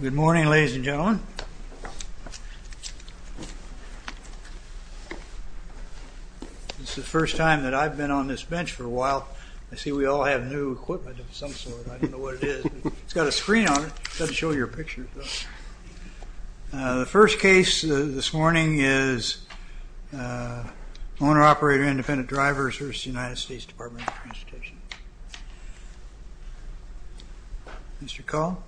Good morning ladies and gentlemen, this is the first time that I've been on this bench for a while. I see we all have new equipment of some sort, I don't know what it is. It's got a screen on it, it doesn't show your picture. The first case this morning is Owner-Operator Independent Driver v. United States Department of Transportation. Mr. Call?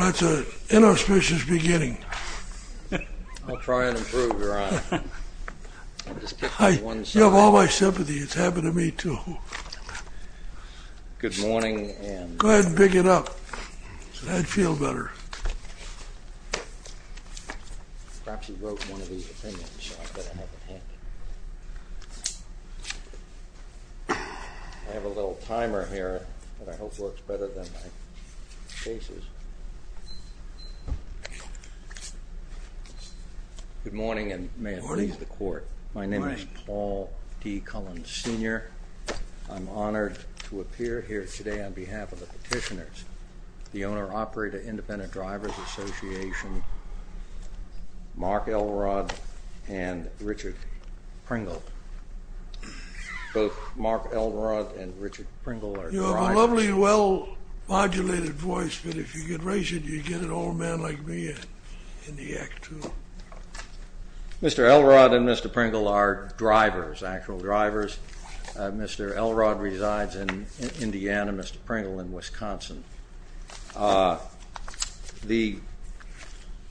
That's an inauspicious beginning. I have all my sympathy, it's happened to me too. Go ahead and pick it up, I'd feel better than my cases. Good morning and may it please the court. My name is Paul D. Cullen Sr. I'm honored to appear here today on behalf of the petitioners. The Owner-Operator Independent You have a lovely, well-modulated voice, but if you get raised, you get an old man like me in the act too. Mr. Elrod and Mr. Pringle are drivers, actual drivers. Mr. Elrod resides in Indiana and Mr. Pringle in Wisconsin. The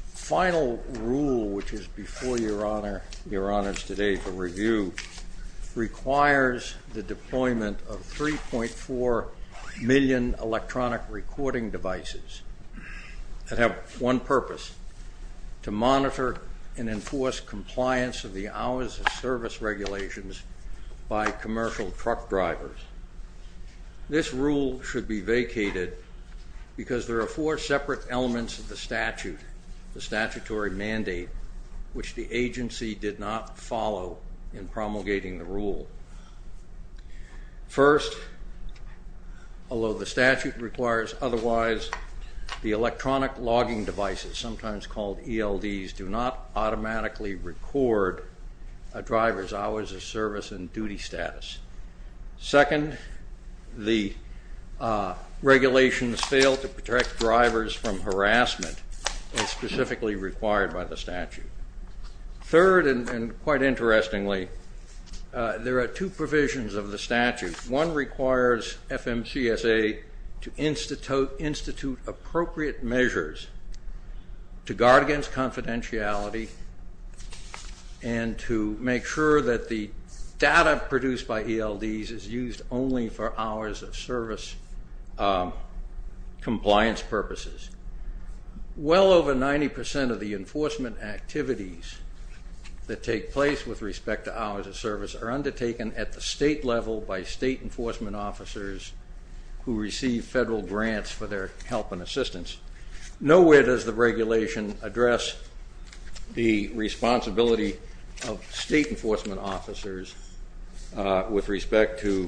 final rule, which is before Your Honor today for review, requires the deployment of 3.4 million electronic recording devices that have one purpose, to monitor and enforce compliance of the hours of service regulations by commercial truck drivers. This rule should be vacated because there are four separate elements of the statutory mandate, which the agency did not follow in promulgating the rule. First, although the statute requires otherwise, the electronic logging devices, sometimes called ELDs, do not automatically record a driver's hours of service and duty status. Second, the regulations fail to protect drivers from harassment as specifically required by the statute. Third, and quite interestingly, there are two provisions of the statute. One requires FMCSA to institute appropriate measures to guard against confidentiality and to make sure that the hours of service compliance purposes. Well over 90% of the enforcement activities that take place with respect to hours of service are undertaken at the state level by state enforcement officers who receive federal grants for their help and assistance. Nowhere does the regulation address the responsibility of state enforcement officers with respect to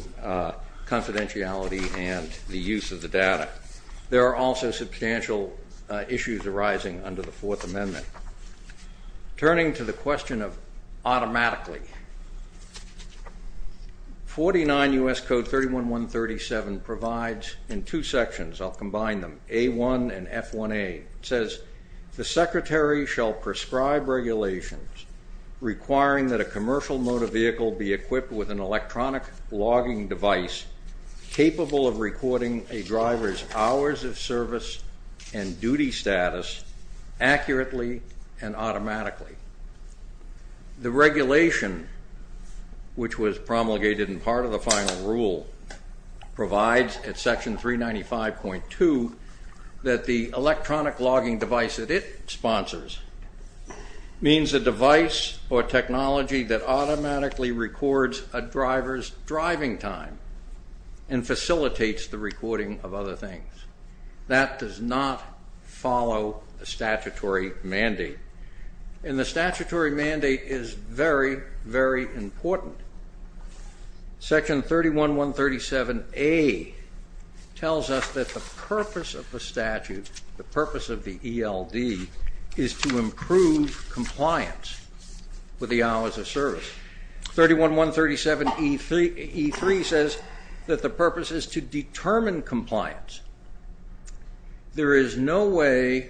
confidentiality and the use of the data. There are also substantial issues arising under the Fourth Amendment. Turning to the question of automatically, 49 U.S. Code 31137 provides in two sections, I'll combine them, A1 and F1A. It says, the secretary shall prescribe regulations requiring that a commercial motor vehicle be equipped with an electronic logging device capable of recording a driver's hours of service and duty status accurately and automatically. The regulation, which was promulgated in part of the final rule, provides at section 395.2 that the electronic logging device that it sponsors means a device or technology that automatically records a driver's driving time and facilitates the recording of other things. That does not follow a statutory mandate. And the section 31137A tells us that the purpose of the statute, the purpose of the ELD, is to improve compliance with the hours of service. 31137E3 says that the purpose is to determine compliance. There is no way,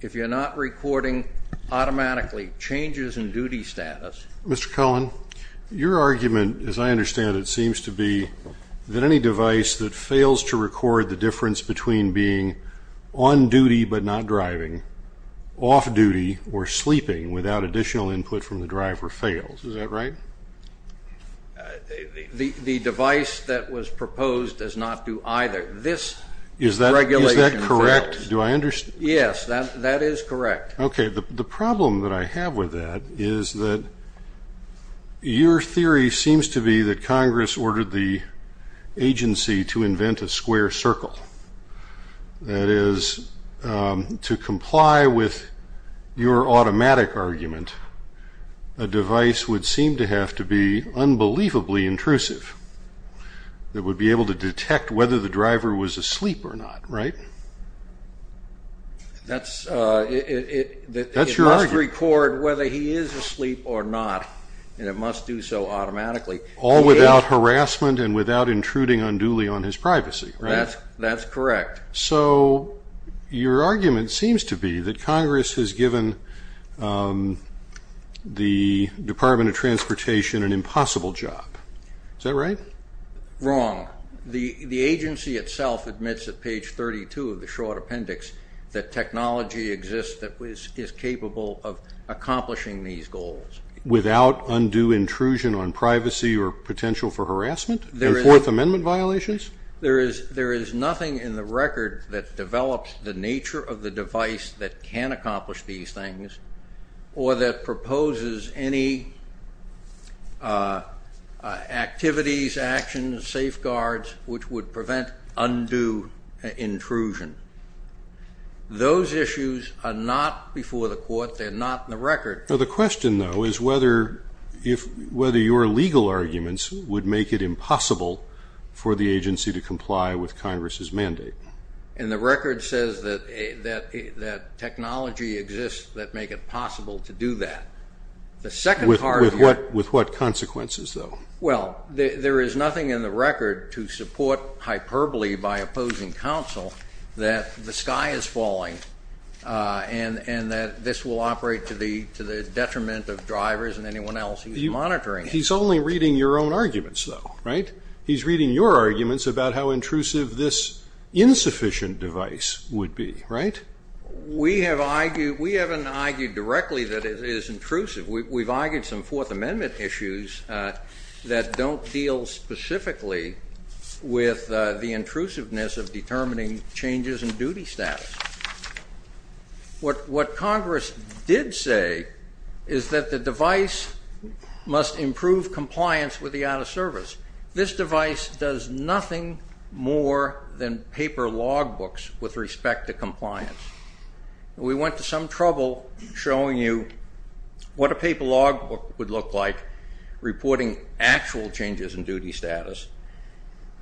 if you're not recording automatically changes in duty status. Mr. Cullen, your argument, as I understand it, seems to be that any device that fails to record the difference between being on duty but not driving, off duty or sleeping without additional input from the driver fails. Is that right? The device that was proposed does not do either. This regulation fails. Is that correct? Yes, that is correct. Okay, the problem that I have with that is that your theory seems to be that Congress ordered the agency to invent a square circle. That is, to comply with your automatic argument, a device would seem to have to be unbelievably intrusive. It would be able to detect whether the driver was asleep or not, right? That's your argument. It must record whether he is asleep or not, and it must do so automatically. All without harassment and without intruding unduly on his privacy, right? That's correct. So, your argument seems to be that Congress has given the Department of Transportation an impossible job. Is that right? Wrong. The agency itself admits at page 32 of the Short Appendix that technology exists that is capable of accomplishing these goals. Without undue intrusion on privacy or potential for harassment? And Fourth Amendment violations? There is nothing in the record that develops the nature of the device that can accomplish these things or that proposes any activities, actions, safeguards which would prevent undue intrusion. Those issues are not before the court. They are not in the record. The question, though, is whether your legal arguments would make it impossible for the agency to comply with Congress's mandate. And the record says that technology exists that make it possible to do that. With what consequences, though? Well, there is nothing in the record to support hyperbole by opposing counsel that the sky is falling and that this will operate to the detriment of drivers and anyone else He's only reading your own arguments, though, right? He's reading your arguments about how intrusive this insufficient device would be, right? We haven't argued directly that it is intrusive. We've argued some Fourth Amendment issues that don't deal specifically with the intrusiveness of determining changes in duty status. What Congress did say is that the device must improve compliance with the out-of-service. This device does nothing more than paper logbooks with respect to compliance. We went to some trouble showing you what a paper logbook would look like reporting actual changes in duty status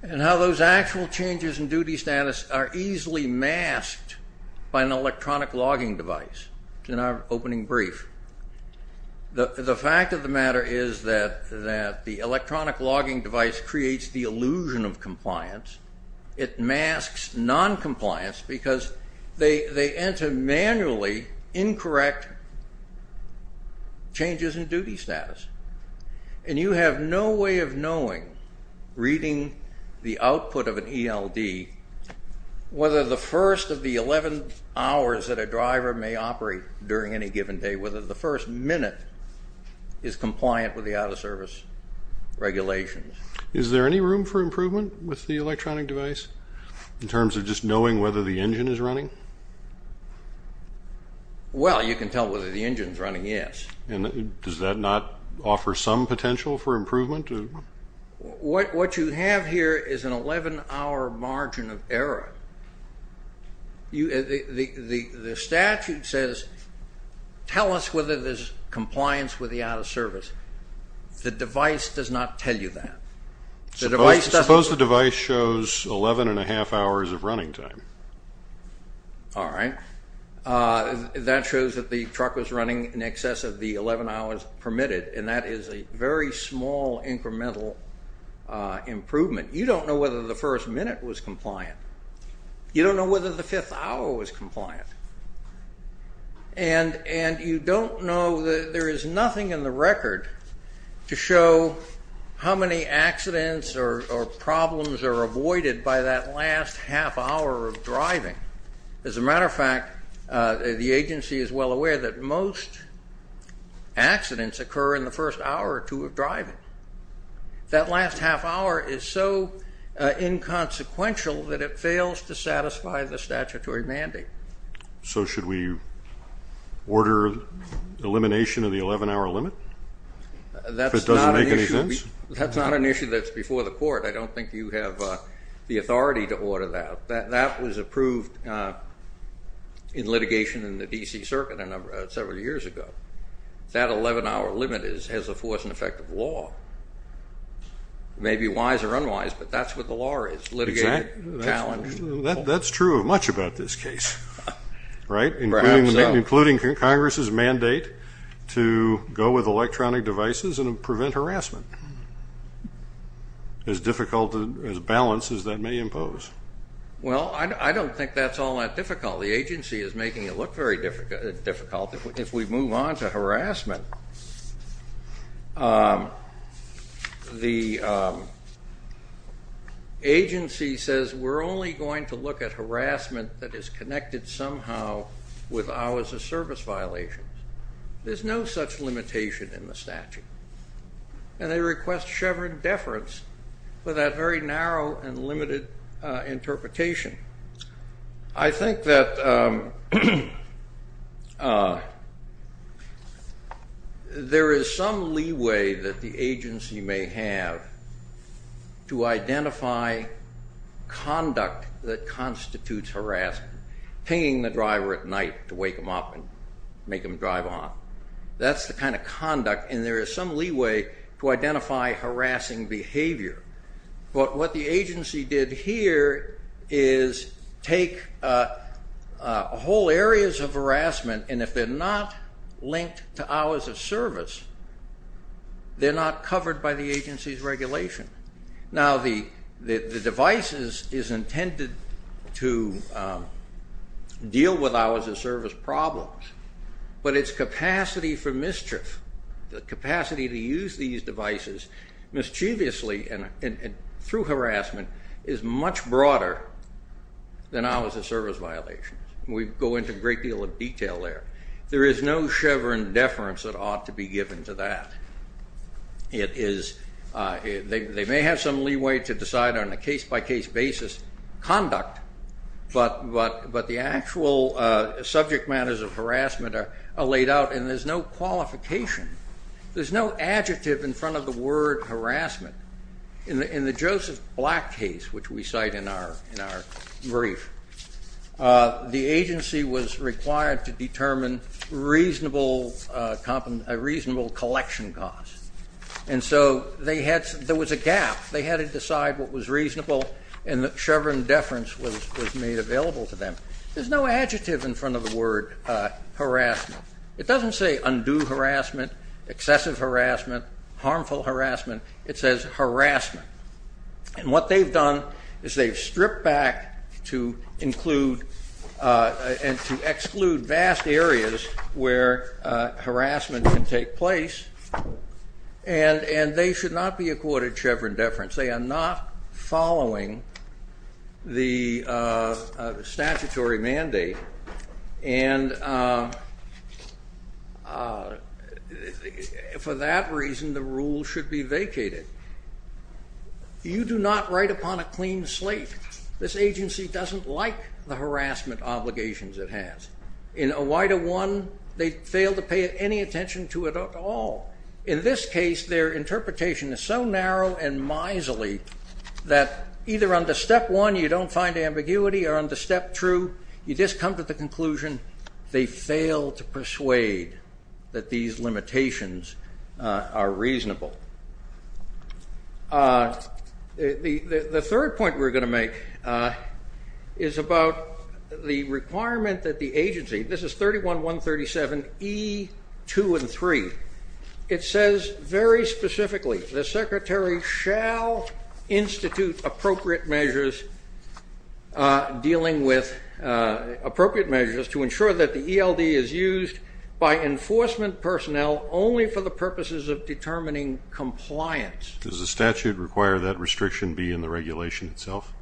and how those actual changes in duty status are easily masked by an electronic logging device in our opening brief. The fact of the matter is that the electronic logging device creates the illusion of compliance. It masks noncompliance because they enter manually incorrect changes in duty status. You have no way of knowing, reading the output of an ELD, whether the first of the 11 hours that a driver may operate during any given day, whether the first minute is compliant with the out-of-service regulations. Is there any room for improvement with the electronic device in terms of just knowing whether the engine is running? Well, you can tell whether the engine is running, yes. Does that not offer some potential for improvement? What you have here is an 11-hour margin of error. The statute says, tell us whether there's compliance with the out-of-service. The device does not tell you that. Suppose the device shows 11 1⁄2 hours of running time. All right. That shows that the truck was running in excess of the 11 hours permitted, and that is a very small incremental improvement. You don't know whether the first minute was compliant. You don't know whether the fifth hour was compliant. And you don't know that there is nothing in the record to show how many accidents or problems are avoided by that last half hour of driving. As a matter of fact, the agency is well aware that most accidents occur in the first hour or two of driving. That last half hour is so inconsequential that it fails to satisfy the statutory mandate. So should we order elimination of the 11-hour limit? If it doesn't make any sense? That's not an issue that's before the court. I don't think you have the authority to order that. That was approved in litigation in the D.C. Circuit several years ago. That 11-hour limit has the force and effect of law. It may be wise or unwise, but that's what the law is. That's true of much about this case, right? Including Congress's mandate to go with electronic devices and prevent harassment. As difficult a balance as that may impose. Well, I don't think that's all that difficult. The agency is making it look very difficult. If we move on to harassment, the agency says we're only going to look at harassment that is connected somehow with hours of service violations. There's no such limitation in the statute. And they request Chevron deference for that very narrow and limited interpretation. I think that there is some leeway that the agency may have to identify conduct that constitutes harassment. Hanging the driver at night to wake him up and make him drive off. That's the kind of conduct. And there is some leeway to identify harassing behavior. But what the agency did here is take whole areas of harassment and if they're not linked to hours of service, they're not covered by the agency's regulation. Now, the device is intended to deal with hours of service problems. But its capacity for mischief, the capacity to use these devices mischievously and through harassment is much broader than hours of service violations. We go into a great deal of detail there. There is no Chevron deference that ought to be given to that. They may have some leeway to decide on a case-by-case basis conduct, but the actual subject matters of harassment are laid out and there's no qualification. There's no adjective in front of the word harassment. In the Joseph Black case, which we cite in our brief, the agency was required to determine a reasonable collection cost. And so there was a gap. They had to decide what was reasonable and the Chevron deference was made available to them. There's no adjective in front of the word harassment. It doesn't say undue harassment, excessive harassment, harmful harassment. It says harassment. And what they've done is they've stripped back to include and to exclude vast areas where harassment can take place and they should not be accorded Chevron deference. They are not following the statutory mandate. And for that reason, the rule should be vacated. You do not write upon a clean slate. This agency doesn't like the harassment obligations it has. In a wider one, they fail to pay any attention to it at all. In this case, their interpretation is so narrow and miserly that either under step one you don't find ambiguity or under step two, you just come to the conclusion they fail to persuade that these limitations are reasonable. The third point we're going to make is about the requirement that the agency, this is 31137E2 and 3. It says very specifically, the secretary shall institute appropriate measures dealing with appropriate measures to ensure that the ELD is used by enforcement personnel only for the purposes of determining compliance. Does the statute require that restriction be in the regulation itself?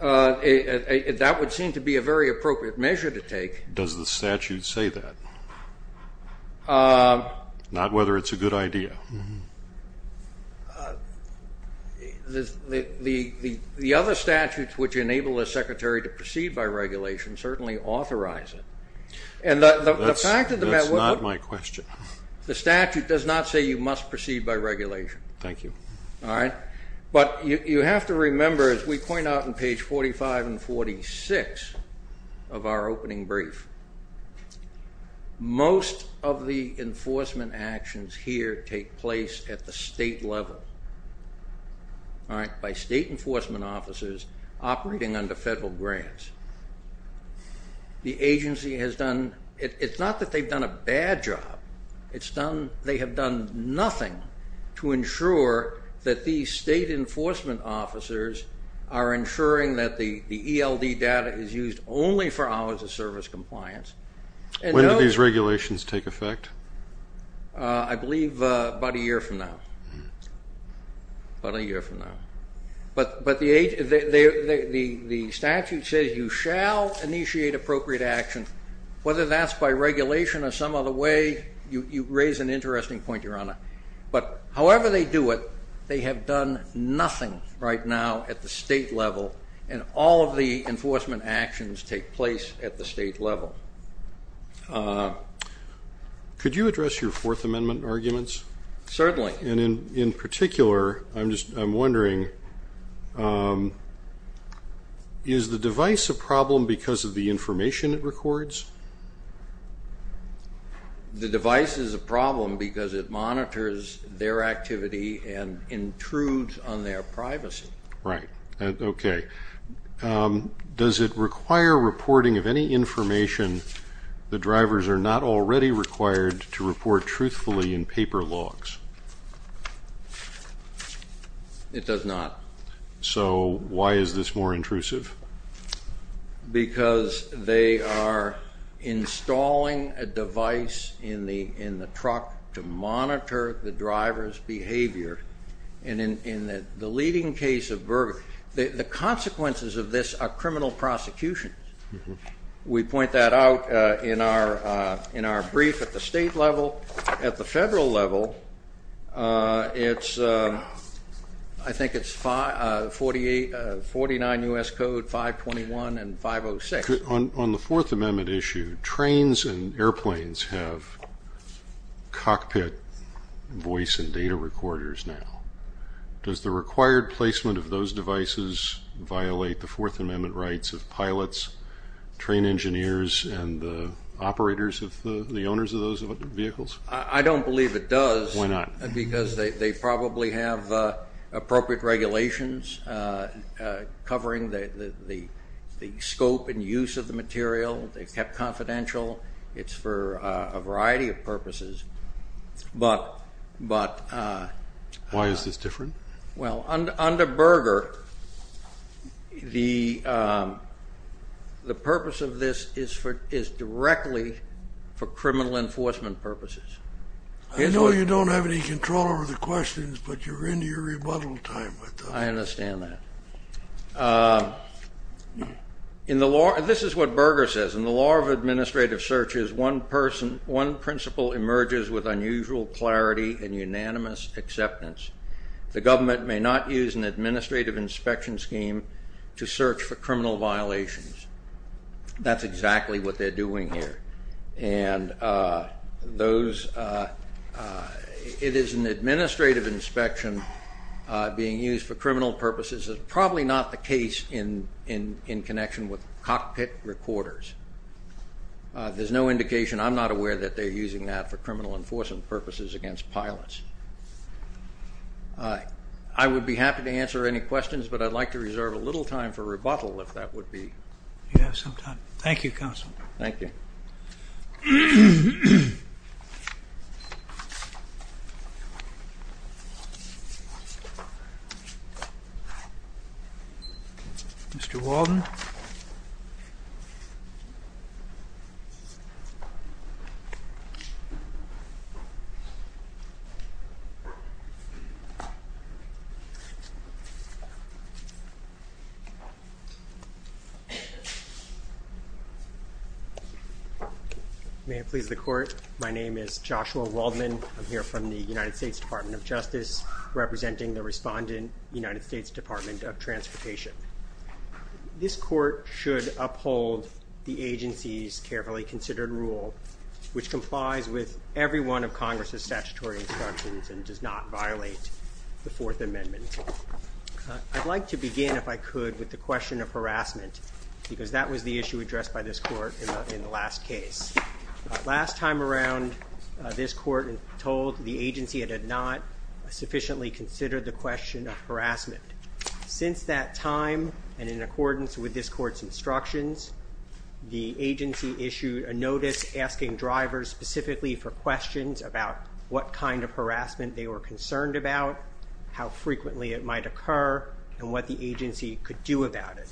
That would seem to be a very appropriate measure to take. Does the statute say that? Not whether it's a good idea. The other statutes which enable a secretary to proceed by regulation certainly authorize it. That's not my question. The statute does not say you must proceed by regulation. Thank you. But you have to remember, as we point out on page 45 and 46 of our opening brief, most of the enforcement actions here take place at the state level. By state enforcement officers operating under federal grants. The agency has done, it's not that they've done a bad job. They have done nothing to ensure that these state enforcement officers are ensuring that the ELD data is used only for hours of service compliance. When do these regulations take effect? I believe about a year from now. About a year from now. But the statute says you shall initiate appropriate action. Whether that's by regulation or some other way, you raise an interesting point, Your Honor. But however they do it, they have done nothing right now at the state level and all of the enforcement actions take place at the state level. Could you address your Fourth Amendment arguments? Certainly. In particular, I'm wondering, is the device a problem because of the information it records? The device is a problem because it monitors their activity and intrudes on their privacy. Right. Okay. Does it require reporting of any information the drivers are not already required to report truthfully in paper logs? It does not. So why is this more intrusive? Because they are installing a device in the truck to monitor the driver's behavior. And in the leading case of Burger, the consequences of this are criminal prosecution. We point that out in our brief at the state level. At the federal level, I think it's 49 U.S. Code 521 and 506. On the Fourth Amendment issue, trains and airplanes have cockpit voice and data recorders now. Does the required placement of those devices violate the Fourth Amendment rights of pilots, train engineers, and the operators, the owners of those vehicles? I don't believe it does. Why not? Because they probably have appropriate regulations covering the scope and use of the material. They're kept confidential. It's for a variety of purposes. Why is this different? Under Burger, the purpose of this is directly for criminal enforcement purposes. I know you don't have any control over the questions, but you're in your rebuttal time. I understand that. This is what Burger says. In the law of administrative searches, one principle emerges with unusual clarity and unanimous acceptance. The government may not use an administrative inspection scheme to search for criminal violations. That's exactly what they're doing here. It is an administrative inspection being used for criminal purposes. It's probably not the case in connection with cockpit recorders. There's no indication. I'm not aware that they're using that for criminal enforcement purposes against pilots. I would be happy to answer any questions, but I'd like to reserve a little time for rebuttal if that would be. You have some time. Thank you, Counsel. Thank you. Mr. May it please the court. My name is Joshua Waldman. I'm here from the United States Department of Justice, representing the respondent United States Department of Transportation. This court should uphold the agency's carefully considered rule, which complies with every one of Congress's statutory instructions and does not violate the Fourth Amendment. I'd like to begin, if I could, with the question of harassment, because that was the issue addressed by this court in the last case. Last time around, this court told the agency it had not sufficiently considered the question of harassment. Since that time, and in accordance with this court's instructions, the agency issued a notice asking drivers specifically for questions about what kind of harassment they were concerned about, how frequently it might occur, and what the agency could do about it.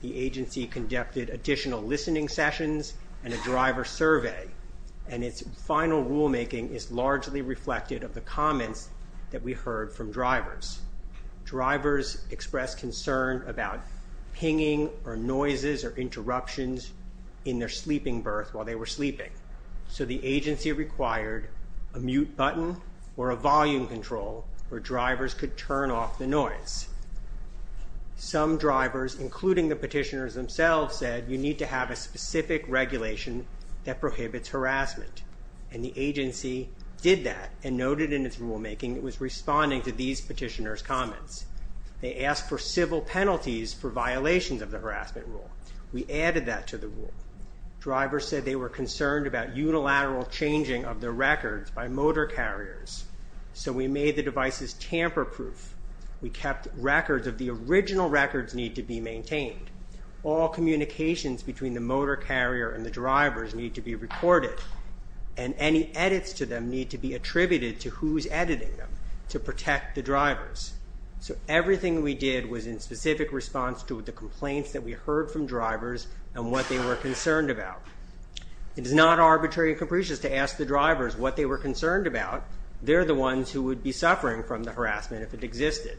The agency conducted additional listening sessions and a driver survey, and its final rulemaking is largely reflected of the comments that we heard from drivers. Drivers expressed concern about pinging or noises or interruptions in their sleeping berth while they were sleeping. So the agency required a mute button or a volume control where drivers could turn off the noise. Some drivers, including the petitioners themselves, said you need to have a specific regulation that prohibits harassment, and the agency did that and noted in its rulemaking it was responding to these petitioners' comments. They asked for civil penalties for violations of the harassment rule. We added that to the rule. Drivers said they were concerned about unilateral changing of the records by motor carriers, so we made the devices tamper-proof. We kept records of the original records need to be maintained. All communications between the motor carrier and the drivers need to be recorded, and any edits to them need to be attributed to who's editing them to protect the drivers. So everything we did was in specific response to the complaints that we heard from drivers and what they were concerned about. It is not arbitrary and capricious to ask the drivers what they were concerned about. They're the ones who would be suffering from the harassment if it existed,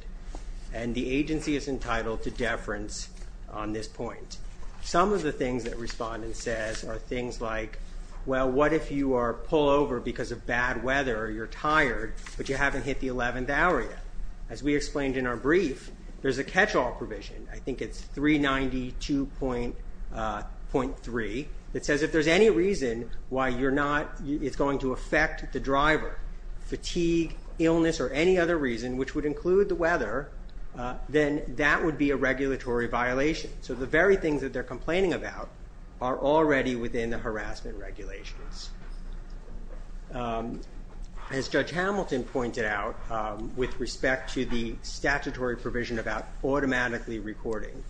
and the agency is entitled to deference on this point. Some of the things that respondent says are things like, well, what if you are pulled over because of bad weather or you're tired but you haven't hit the 11th hour yet? As we explained in our brief, there's a catch-all provision. I think it's 392.3. It says if there's any reason why it's going to affect the driver, fatigue, illness, or any other reason which would include the weather, then that would be a regulatory violation. So the very things that they're complaining about are already within the harassment regulations. As Judge Hamilton pointed out with respect to the statutory provision about automatically recording,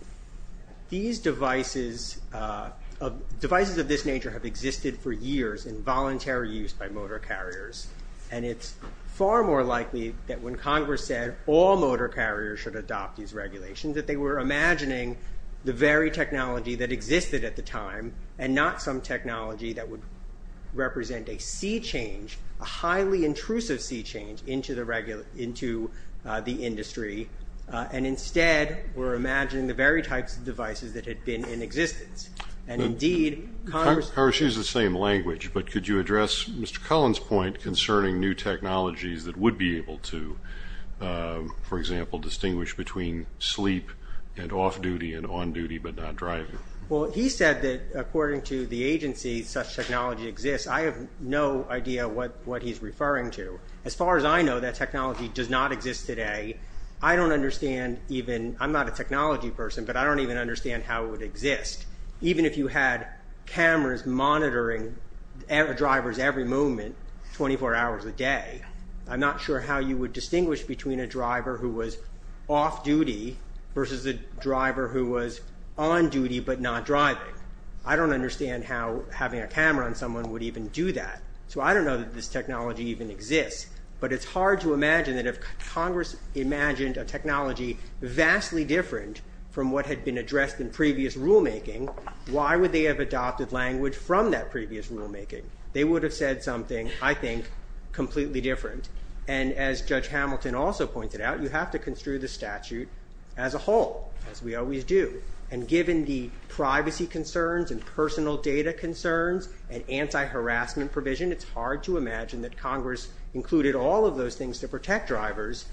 these devices of this nature have existed for years in voluntary use by motor carriers, and it's far more likely that when Congress said all motor carriers should adopt these regulations that they were imagining the very technology that existed at the time and not some technology that would represent a sea change, a highly intrusive sea change into the industry, and instead were imagining the very types of devices that had been in existence. And indeed Congress used the same language, but could you address Mr. Cullen's point concerning new technologies that would be able to, for example, distinguish between sleep and off-duty and on-duty but not driving? Well, he said that according to the agency such technology exists. I have no idea what he's referring to. As far as I know, that technology does not exist today. I don't understand even—I'm not a technology person, but I don't even understand how it would exist. Even if you had cameras monitoring drivers every moment 24 hours a day, I'm not sure how you would distinguish between a driver who was off-duty versus a driver who was on-duty but not driving. I don't understand how having a camera on someone would even do that. So I don't know that this technology even exists, but it's hard to imagine that if Congress imagined a technology vastly different from what had been addressed in previous rulemaking, why would they have adopted language from that previous rulemaking? They would have said something, I think, completely different. And as Judge Hamilton also pointed out, you have to construe the statute as a whole, as we always do. And given the privacy concerns and personal data concerns and anti-harassment provision, it's hard to imagine that Congress included all of those things to protect drivers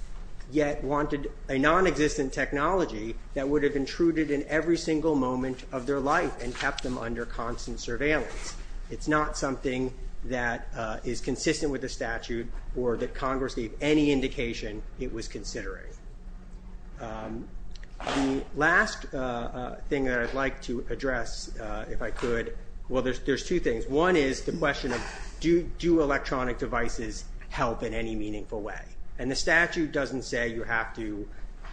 yet wanted a nonexistent technology that would have intruded in every single moment of their life and kept them under constant surveillance. It's not something that is consistent with the statute or that Congress gave any indication it was considering. The last thing that I'd like to address, if I could, well, there's two things. One is the question of do electronic devices help in any meaningful way? And the statute doesn't say you have to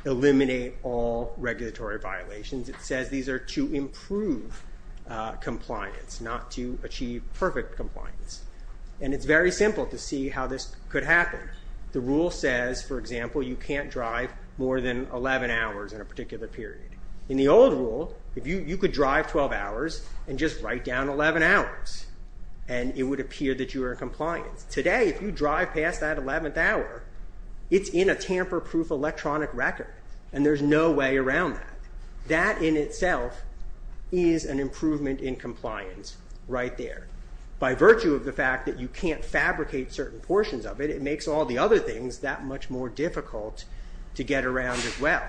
eliminate all regulatory violations. It says these are to improve compliance, not to achieve perfect compliance. And it's very simple to see how this could happen. The rule says, for example, you can't drive more than 11 hours in a particular period. In the old rule, you could drive 12 hours and just write down 11 hours, and it would appear that you were in compliance. Today, if you drive past that 11th hour, it's in a tamper-proof electronic record, and there's no way around that. That in itself is an improvement in compliance right there. By virtue of the fact that you can't fabricate certain portions of it, it makes all the other things that much more difficult to get around as well.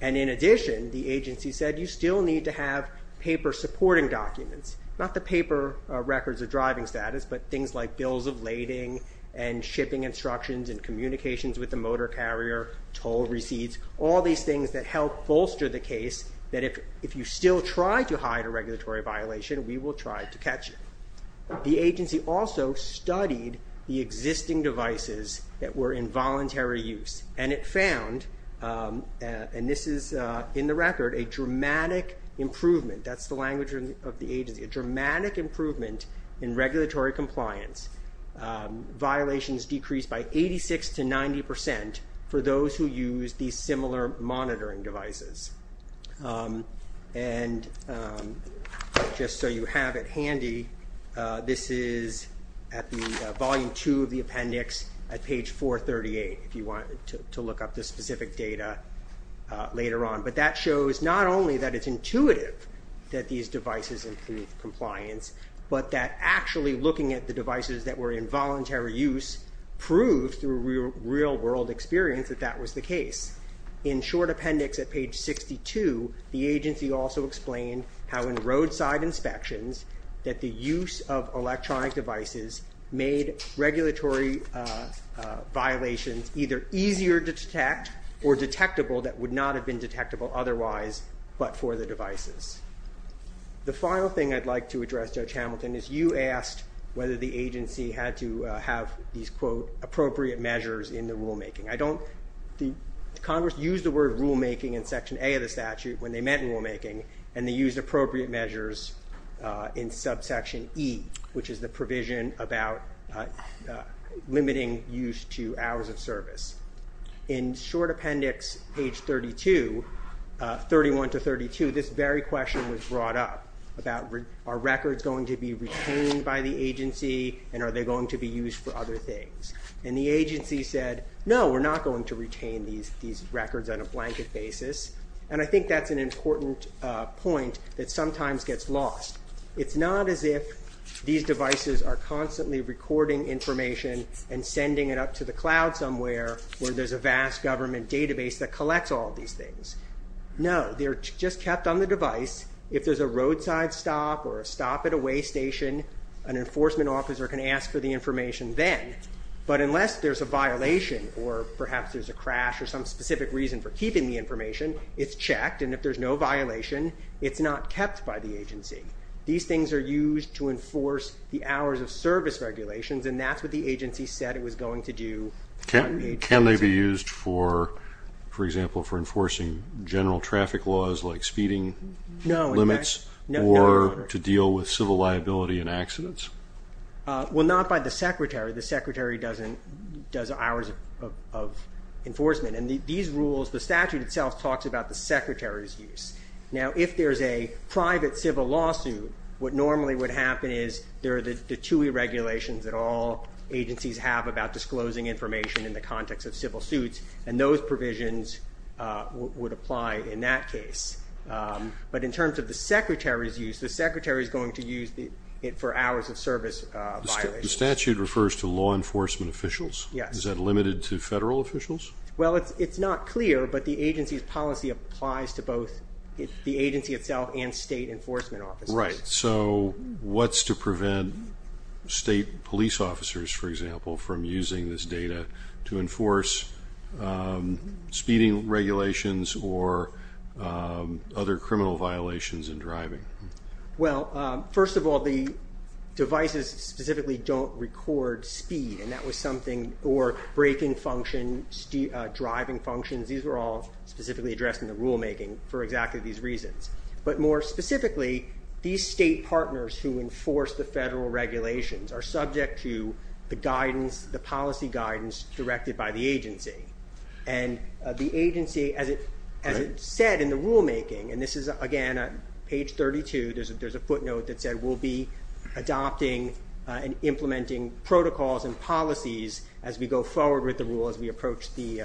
And in addition, the agency said you still need to have paper supporting documents, not the paper records of driving status, but things like bills of lading and shipping instructions and communications with the motor carrier, toll receipts, all these things that help bolster the case that if you still try to hide a regulatory violation, we will try to catch you. The agency also studied the existing devices that were in voluntary use, and it found, and this is in the record, a dramatic improvement. That's the language of the agency, a dramatic improvement in regulatory compliance. Violations decreased by 86% to 90% for those who use these similar monitoring devices. And just so you have it handy, this is at the volume 2 of the appendix at page 438, if you want to look up the specific data later on. But that shows not only that it's intuitive that these devices improve compliance, but that actually looking at the devices that were in voluntary use proved through real-world experience that that was the case. In short appendix at page 62, the agency also explained how in roadside inspections that the use of electronic devices made regulatory violations either easier to detect or detectable that would not have been detectable otherwise but for the devices. The final thing I'd like to address, Judge Hamilton, is you asked whether the agency had to have these, quote, appropriate measures in the rulemaking. I don't think Congress used the word rulemaking in Section A of the statute when they meant rulemaking, and they used appropriate measures in subsection E, In short appendix page 32, 31 to 32, this very question was brought up about are records going to be retained by the agency and are they going to be used for other things. And the agency said, no, we're not going to retain these records on a blanket basis. And I think that's an important point that sometimes gets lost. It's not as if these devices are constantly recording information and sending it up to the cloud somewhere where there's a vast government database that collects all these things. No, they're just kept on the device. If there's a roadside stop or a stop at a way station, an enforcement officer can ask for the information then. But unless there's a violation or perhaps there's a crash or some specific reason for keeping the information, it's checked. And if there's no violation, it's not kept by the agency. These things are used to enforce the hours of service regulations, and that's what the agency said it was going to do. Can they be used, for example, for enforcing general traffic laws like speeding limits or to deal with civil liability and accidents? Well, not by the secretary. The secretary does hours of enforcement. And these rules, the statute itself talks about the secretary's use. Now, if there's a private civil lawsuit, what normally would happen is there are the two regulations that all agencies have about disclosing information in the context of civil suits, and those provisions would apply in that case. But in terms of the secretary's use, the secretary is going to use it for hours of service violations. The statute refers to law enforcement officials? Yes. Is that limited to federal officials? Well, it's not clear, but the agency's policy applies to both the agency itself and state enforcement officers. Right. So what's to prevent state police officers, for example, from using this data to enforce speeding regulations or other criminal violations in driving? Well, first of all, the devices specifically don't record speed, or braking function, driving functions. These were all specifically addressed in the rulemaking for exactly these reasons. But more specifically, these state partners who enforce the federal regulations are subject to the policy guidance directed by the agency. And the agency, as it said in the rulemaking, and this is, again, page 32, there's a footnote that said we'll be adopting and implementing protocols and policies as we go forward with the rule, as we approach the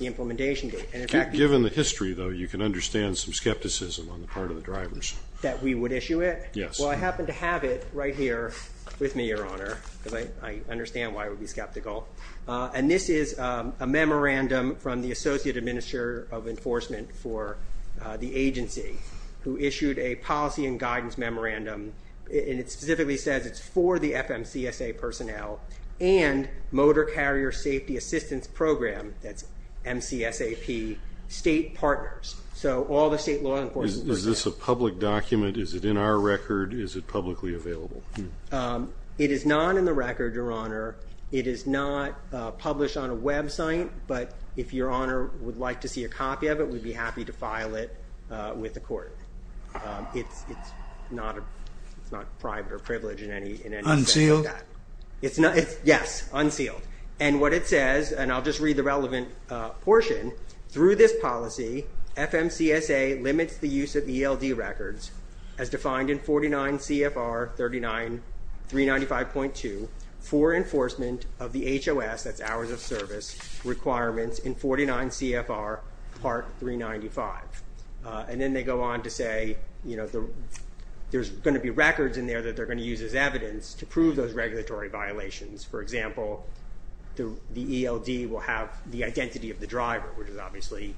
implementation date. Given the history, though, you can understand some skepticism on the part of the drivers. That we would issue it? Yes. Well, I happen to have it right here with me, Your Honor, because I understand why I would be skeptical. And this is a memorandum from the Associate Administrator of Enforcement for the agency who issued a policy and guidance memorandum, and it specifically says it's for the FMCSA personnel and Motor Carrier Safety Assistance Program, that's MCSAP, state partners. So all the state law enforcement personnel. Is this a public document? Is it in our record? Is it publicly available? It is not in the record, Your Honor. It is not published on a website, but if Your Honor would like to see a copy of it, we'd be happy to file it with the court. It's not private or privileged in any sense of that. Unsealed? Yes, unsealed. And what it says, and I'll just read the relevant portion, through this policy FMCSA limits the use of ELD records as defined in 49 CFR 39395.2 for enforcement of the HOS, that's hours of service, requirements in 49 CFR Part 395. And then they go on to say there's going to be records in there that they're going to use as evidence to prove those regulatory violations. For example, the ELD will have the identity of the driver, which is obviously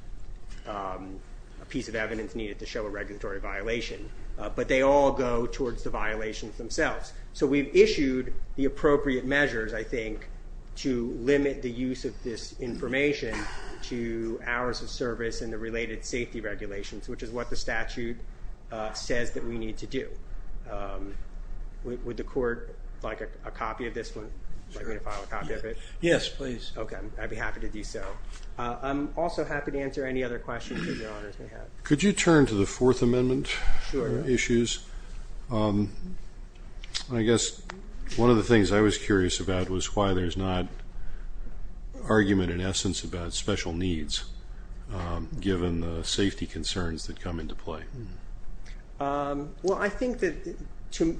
a piece of evidence needed to show a regulatory violation. But they all go towards the violations themselves. So we've issued the appropriate measures, I think, to limit the use of this information to hours of service and the related safety regulations, which is what the statute says that we need to do. Would the court like a copy of this one? Would you like me to file a copy of it? Yes, please. Okay. I'd be happy to do so. I'm also happy to answer any other questions that Your Honors may have. Could you turn to the Fourth Amendment issues? Sure. Well, I think that,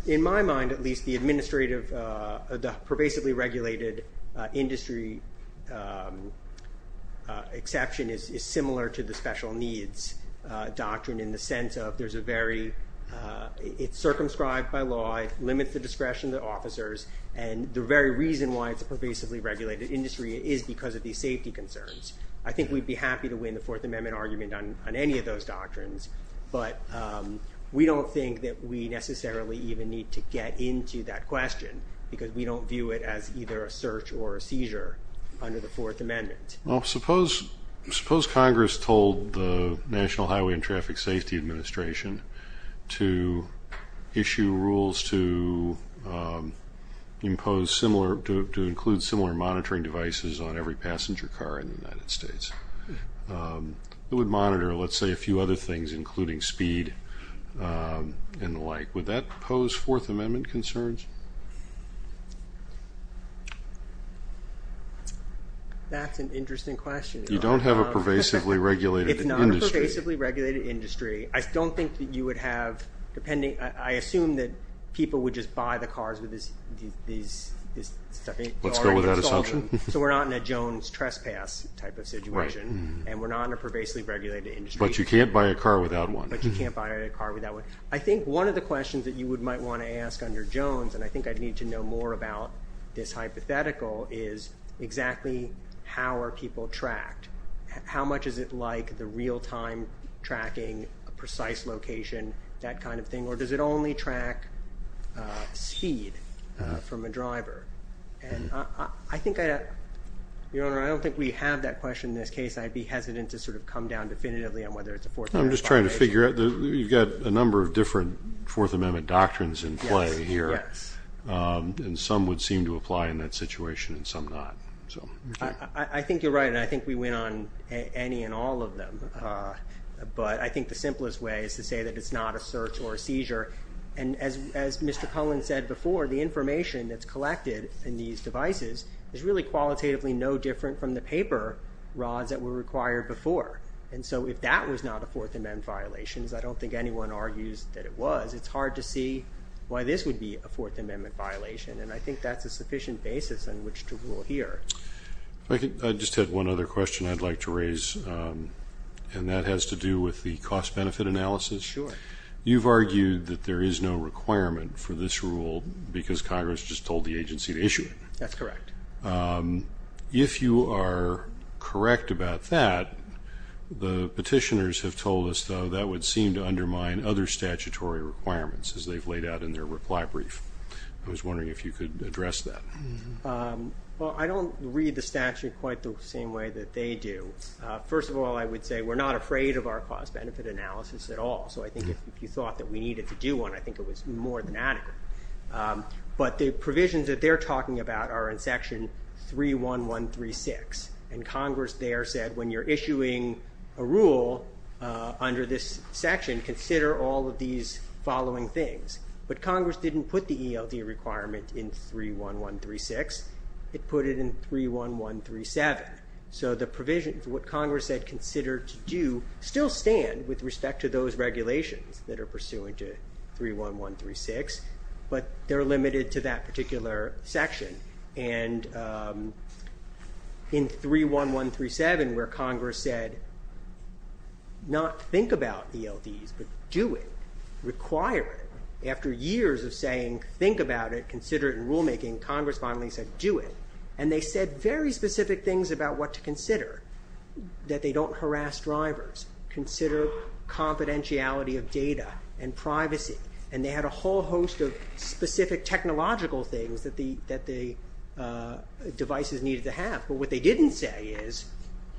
in my mind at least, the administrative, the pervasively regulated industry exception is similar to the special needs doctrine in the sense of it's circumscribed by law. And the very reason why it's a pervasively regulated industry is because of these safety concerns. I think we'd be happy to win the Fourth Amendment argument on any of those doctrines. But we don't think that we necessarily even need to get into that question because we don't view it as either a search or a seizure under the Fourth Amendment. Well, suppose Congress told the National Highway and Traffic Safety Administration to issue rules to impose similar, to include similar monitoring devices on every passenger car in the United States. It would monitor, let's say, a few other things including speed and the like. Would that pose Fourth Amendment concerns? That's an interesting question. You don't have a pervasively regulated industry. It's not a pervasively regulated industry. I don't think that you would have, depending, I assume that people would just buy the cars with this stuff. Let's go with that assumption. So we're not in a Jones trespass type of situation. Right. And we're not in a pervasively regulated industry. But you can't buy a car without one. But you can't buy a car without one. I think one of the questions that you might want to ask under Jones, and I think I'd need to know more about this hypothetical, is exactly how are people tracked? How much is it like the real-time tracking, a precise location, that kind of thing? Or does it only track speed from a driver? And I think, Your Honor, I don't think we have that question in this case. I'd be hesitant to sort of come down definitively on whether it's a Fourth Amendment violation. I'm just trying to figure out. You've got a number of different Fourth Amendment doctrines in play here. Yes. And some would seem to apply in that situation and some not. I think you're right, and I think we went on any and all of them. But I think the simplest way is to say that it's not a search or a seizure. And as Mr. Cullen said before, the information that's collected in these devices is really qualitatively no different from the paper rods that were required before. And so if that was not a Fourth Amendment violation, as I don't think anyone argues that it was, it's hard to see why this would be a Fourth Amendment violation. And I think that's a sufficient basis on which to rule here. I just had one other question I'd like to raise, and that has to do with the cost-benefit analysis. Sure. You've argued that there is no requirement for this rule because Congress just told the agency to issue it. That's correct. If you are correct about that, the petitioners have told us, though, that would seem to undermine other statutory requirements as they've laid out in their reply brief. I was wondering if you could address that. Well, I don't read the statute quite the same way that they do. First of all, I would say we're not afraid of our cost-benefit analysis at all. So I think if you thought that we needed to do one, I think it was more than adequate. But the provisions that they're talking about are in Section 31136, and Congress there said when you're issuing a rule under this section, consider all of these following things. But Congress didn't put the ELD requirement in 31136. It put it in 31137. So the provisions, what Congress said consider to do, still stand with respect to those regulations that are pursuant to 31136, but they're limited to that particular section. And in 31137, where Congress said not think about ELDs, but do it, require it, after years of saying think about it, consider it in rulemaking, Congress finally said do it. And they said very specific things about what to consider, that they don't harass drivers. Consider confidentiality of data and privacy. And they had a whole host of specific technological things that the devices needed to have. But what they didn't say is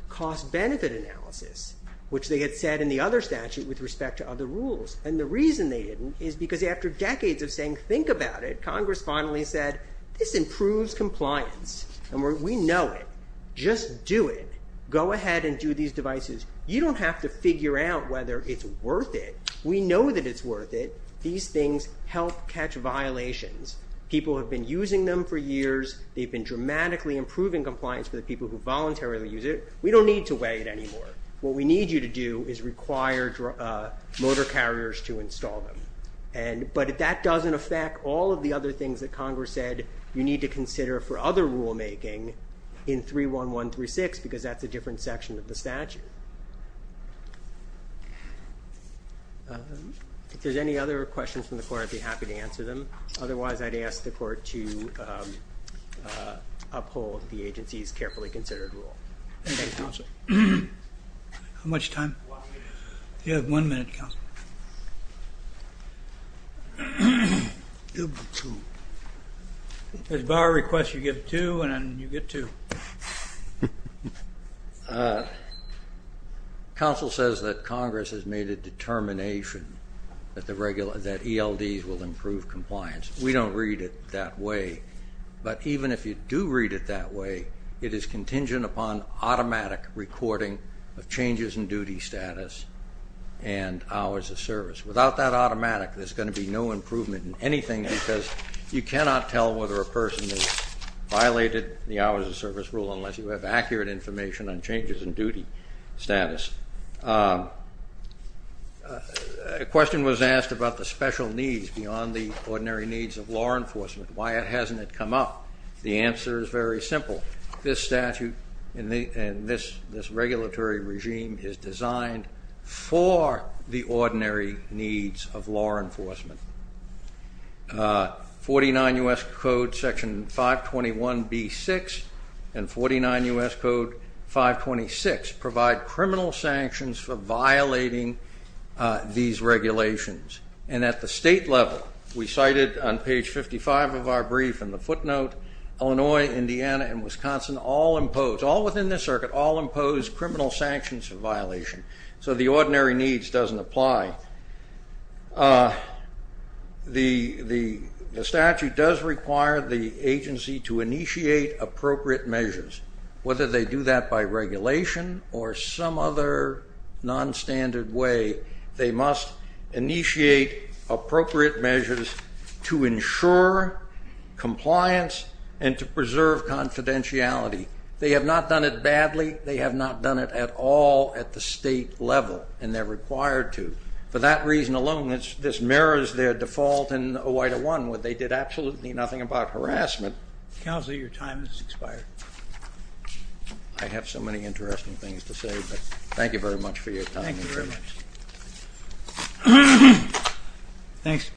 cost-benefit analysis, which they had said in the other statute with respect to other rules. And the reason they didn't is because after decades of saying think about it, Congress finally said this improves compliance. And we know it. Just do it. Go ahead and do these devices. You don't have to figure out whether it's worth it. We know that it's worth it. These things help catch violations. People have been using them for years. They've been dramatically improving compliance for the people who voluntarily use it. We don't need to weigh it anymore. What we need you to do is require motor carriers to install them. But if that doesn't affect all of the other things that Congress said, you need to consider for other rulemaking in 31136 because that's a different section of the statute. If there's any other questions from the court, I'd be happy to answer them. Otherwise, I'd ask the court to uphold the agency's carefully considered rule. Thank you, Counsel. How much time? One minute. You have one minute, Counsel. As bar requests, you get two, and you get two. Counsel says that Congress has made a determination that ELDs will improve compliance. We don't read it that way. But even if you do read it that way, it is contingent upon automatic recording of changes in duty status and hours of service. Without that automatic, there's going to be no improvement in anything because you cannot tell whether a person has violated the hours of service rule unless you have accurate information on changes in duty status. A question was asked about the special needs beyond the ordinary needs of law enforcement, why hasn't it come up? The answer is very simple. This statute and this regulatory regime is designed for the ordinary needs of law enforcement. 49 U.S. Code Section 521B-6 and 49 U.S. Code 526 provide criminal sanctions for violating these regulations. And at the state level, we cited on page 55 of our brief in the footnote, Illinois, Indiana, and Wisconsin all impose, all within this circuit, all impose criminal sanctions for violation. So the ordinary needs doesn't apply. The statute does require the agency to initiate appropriate measures. Whether they do that by regulation or some other nonstandard way, they must initiate appropriate measures to ensure compliance and to preserve confidentiality. They have not done it badly. They have not done it at all at the state level, and they're required to. For that reason alone, this mirrors their default in OI-1 where they did absolutely nothing about harassment. Counselor, your time has expired. I have so many interesting things to say, but thank you very much for your time. Thank you very much. Thanks.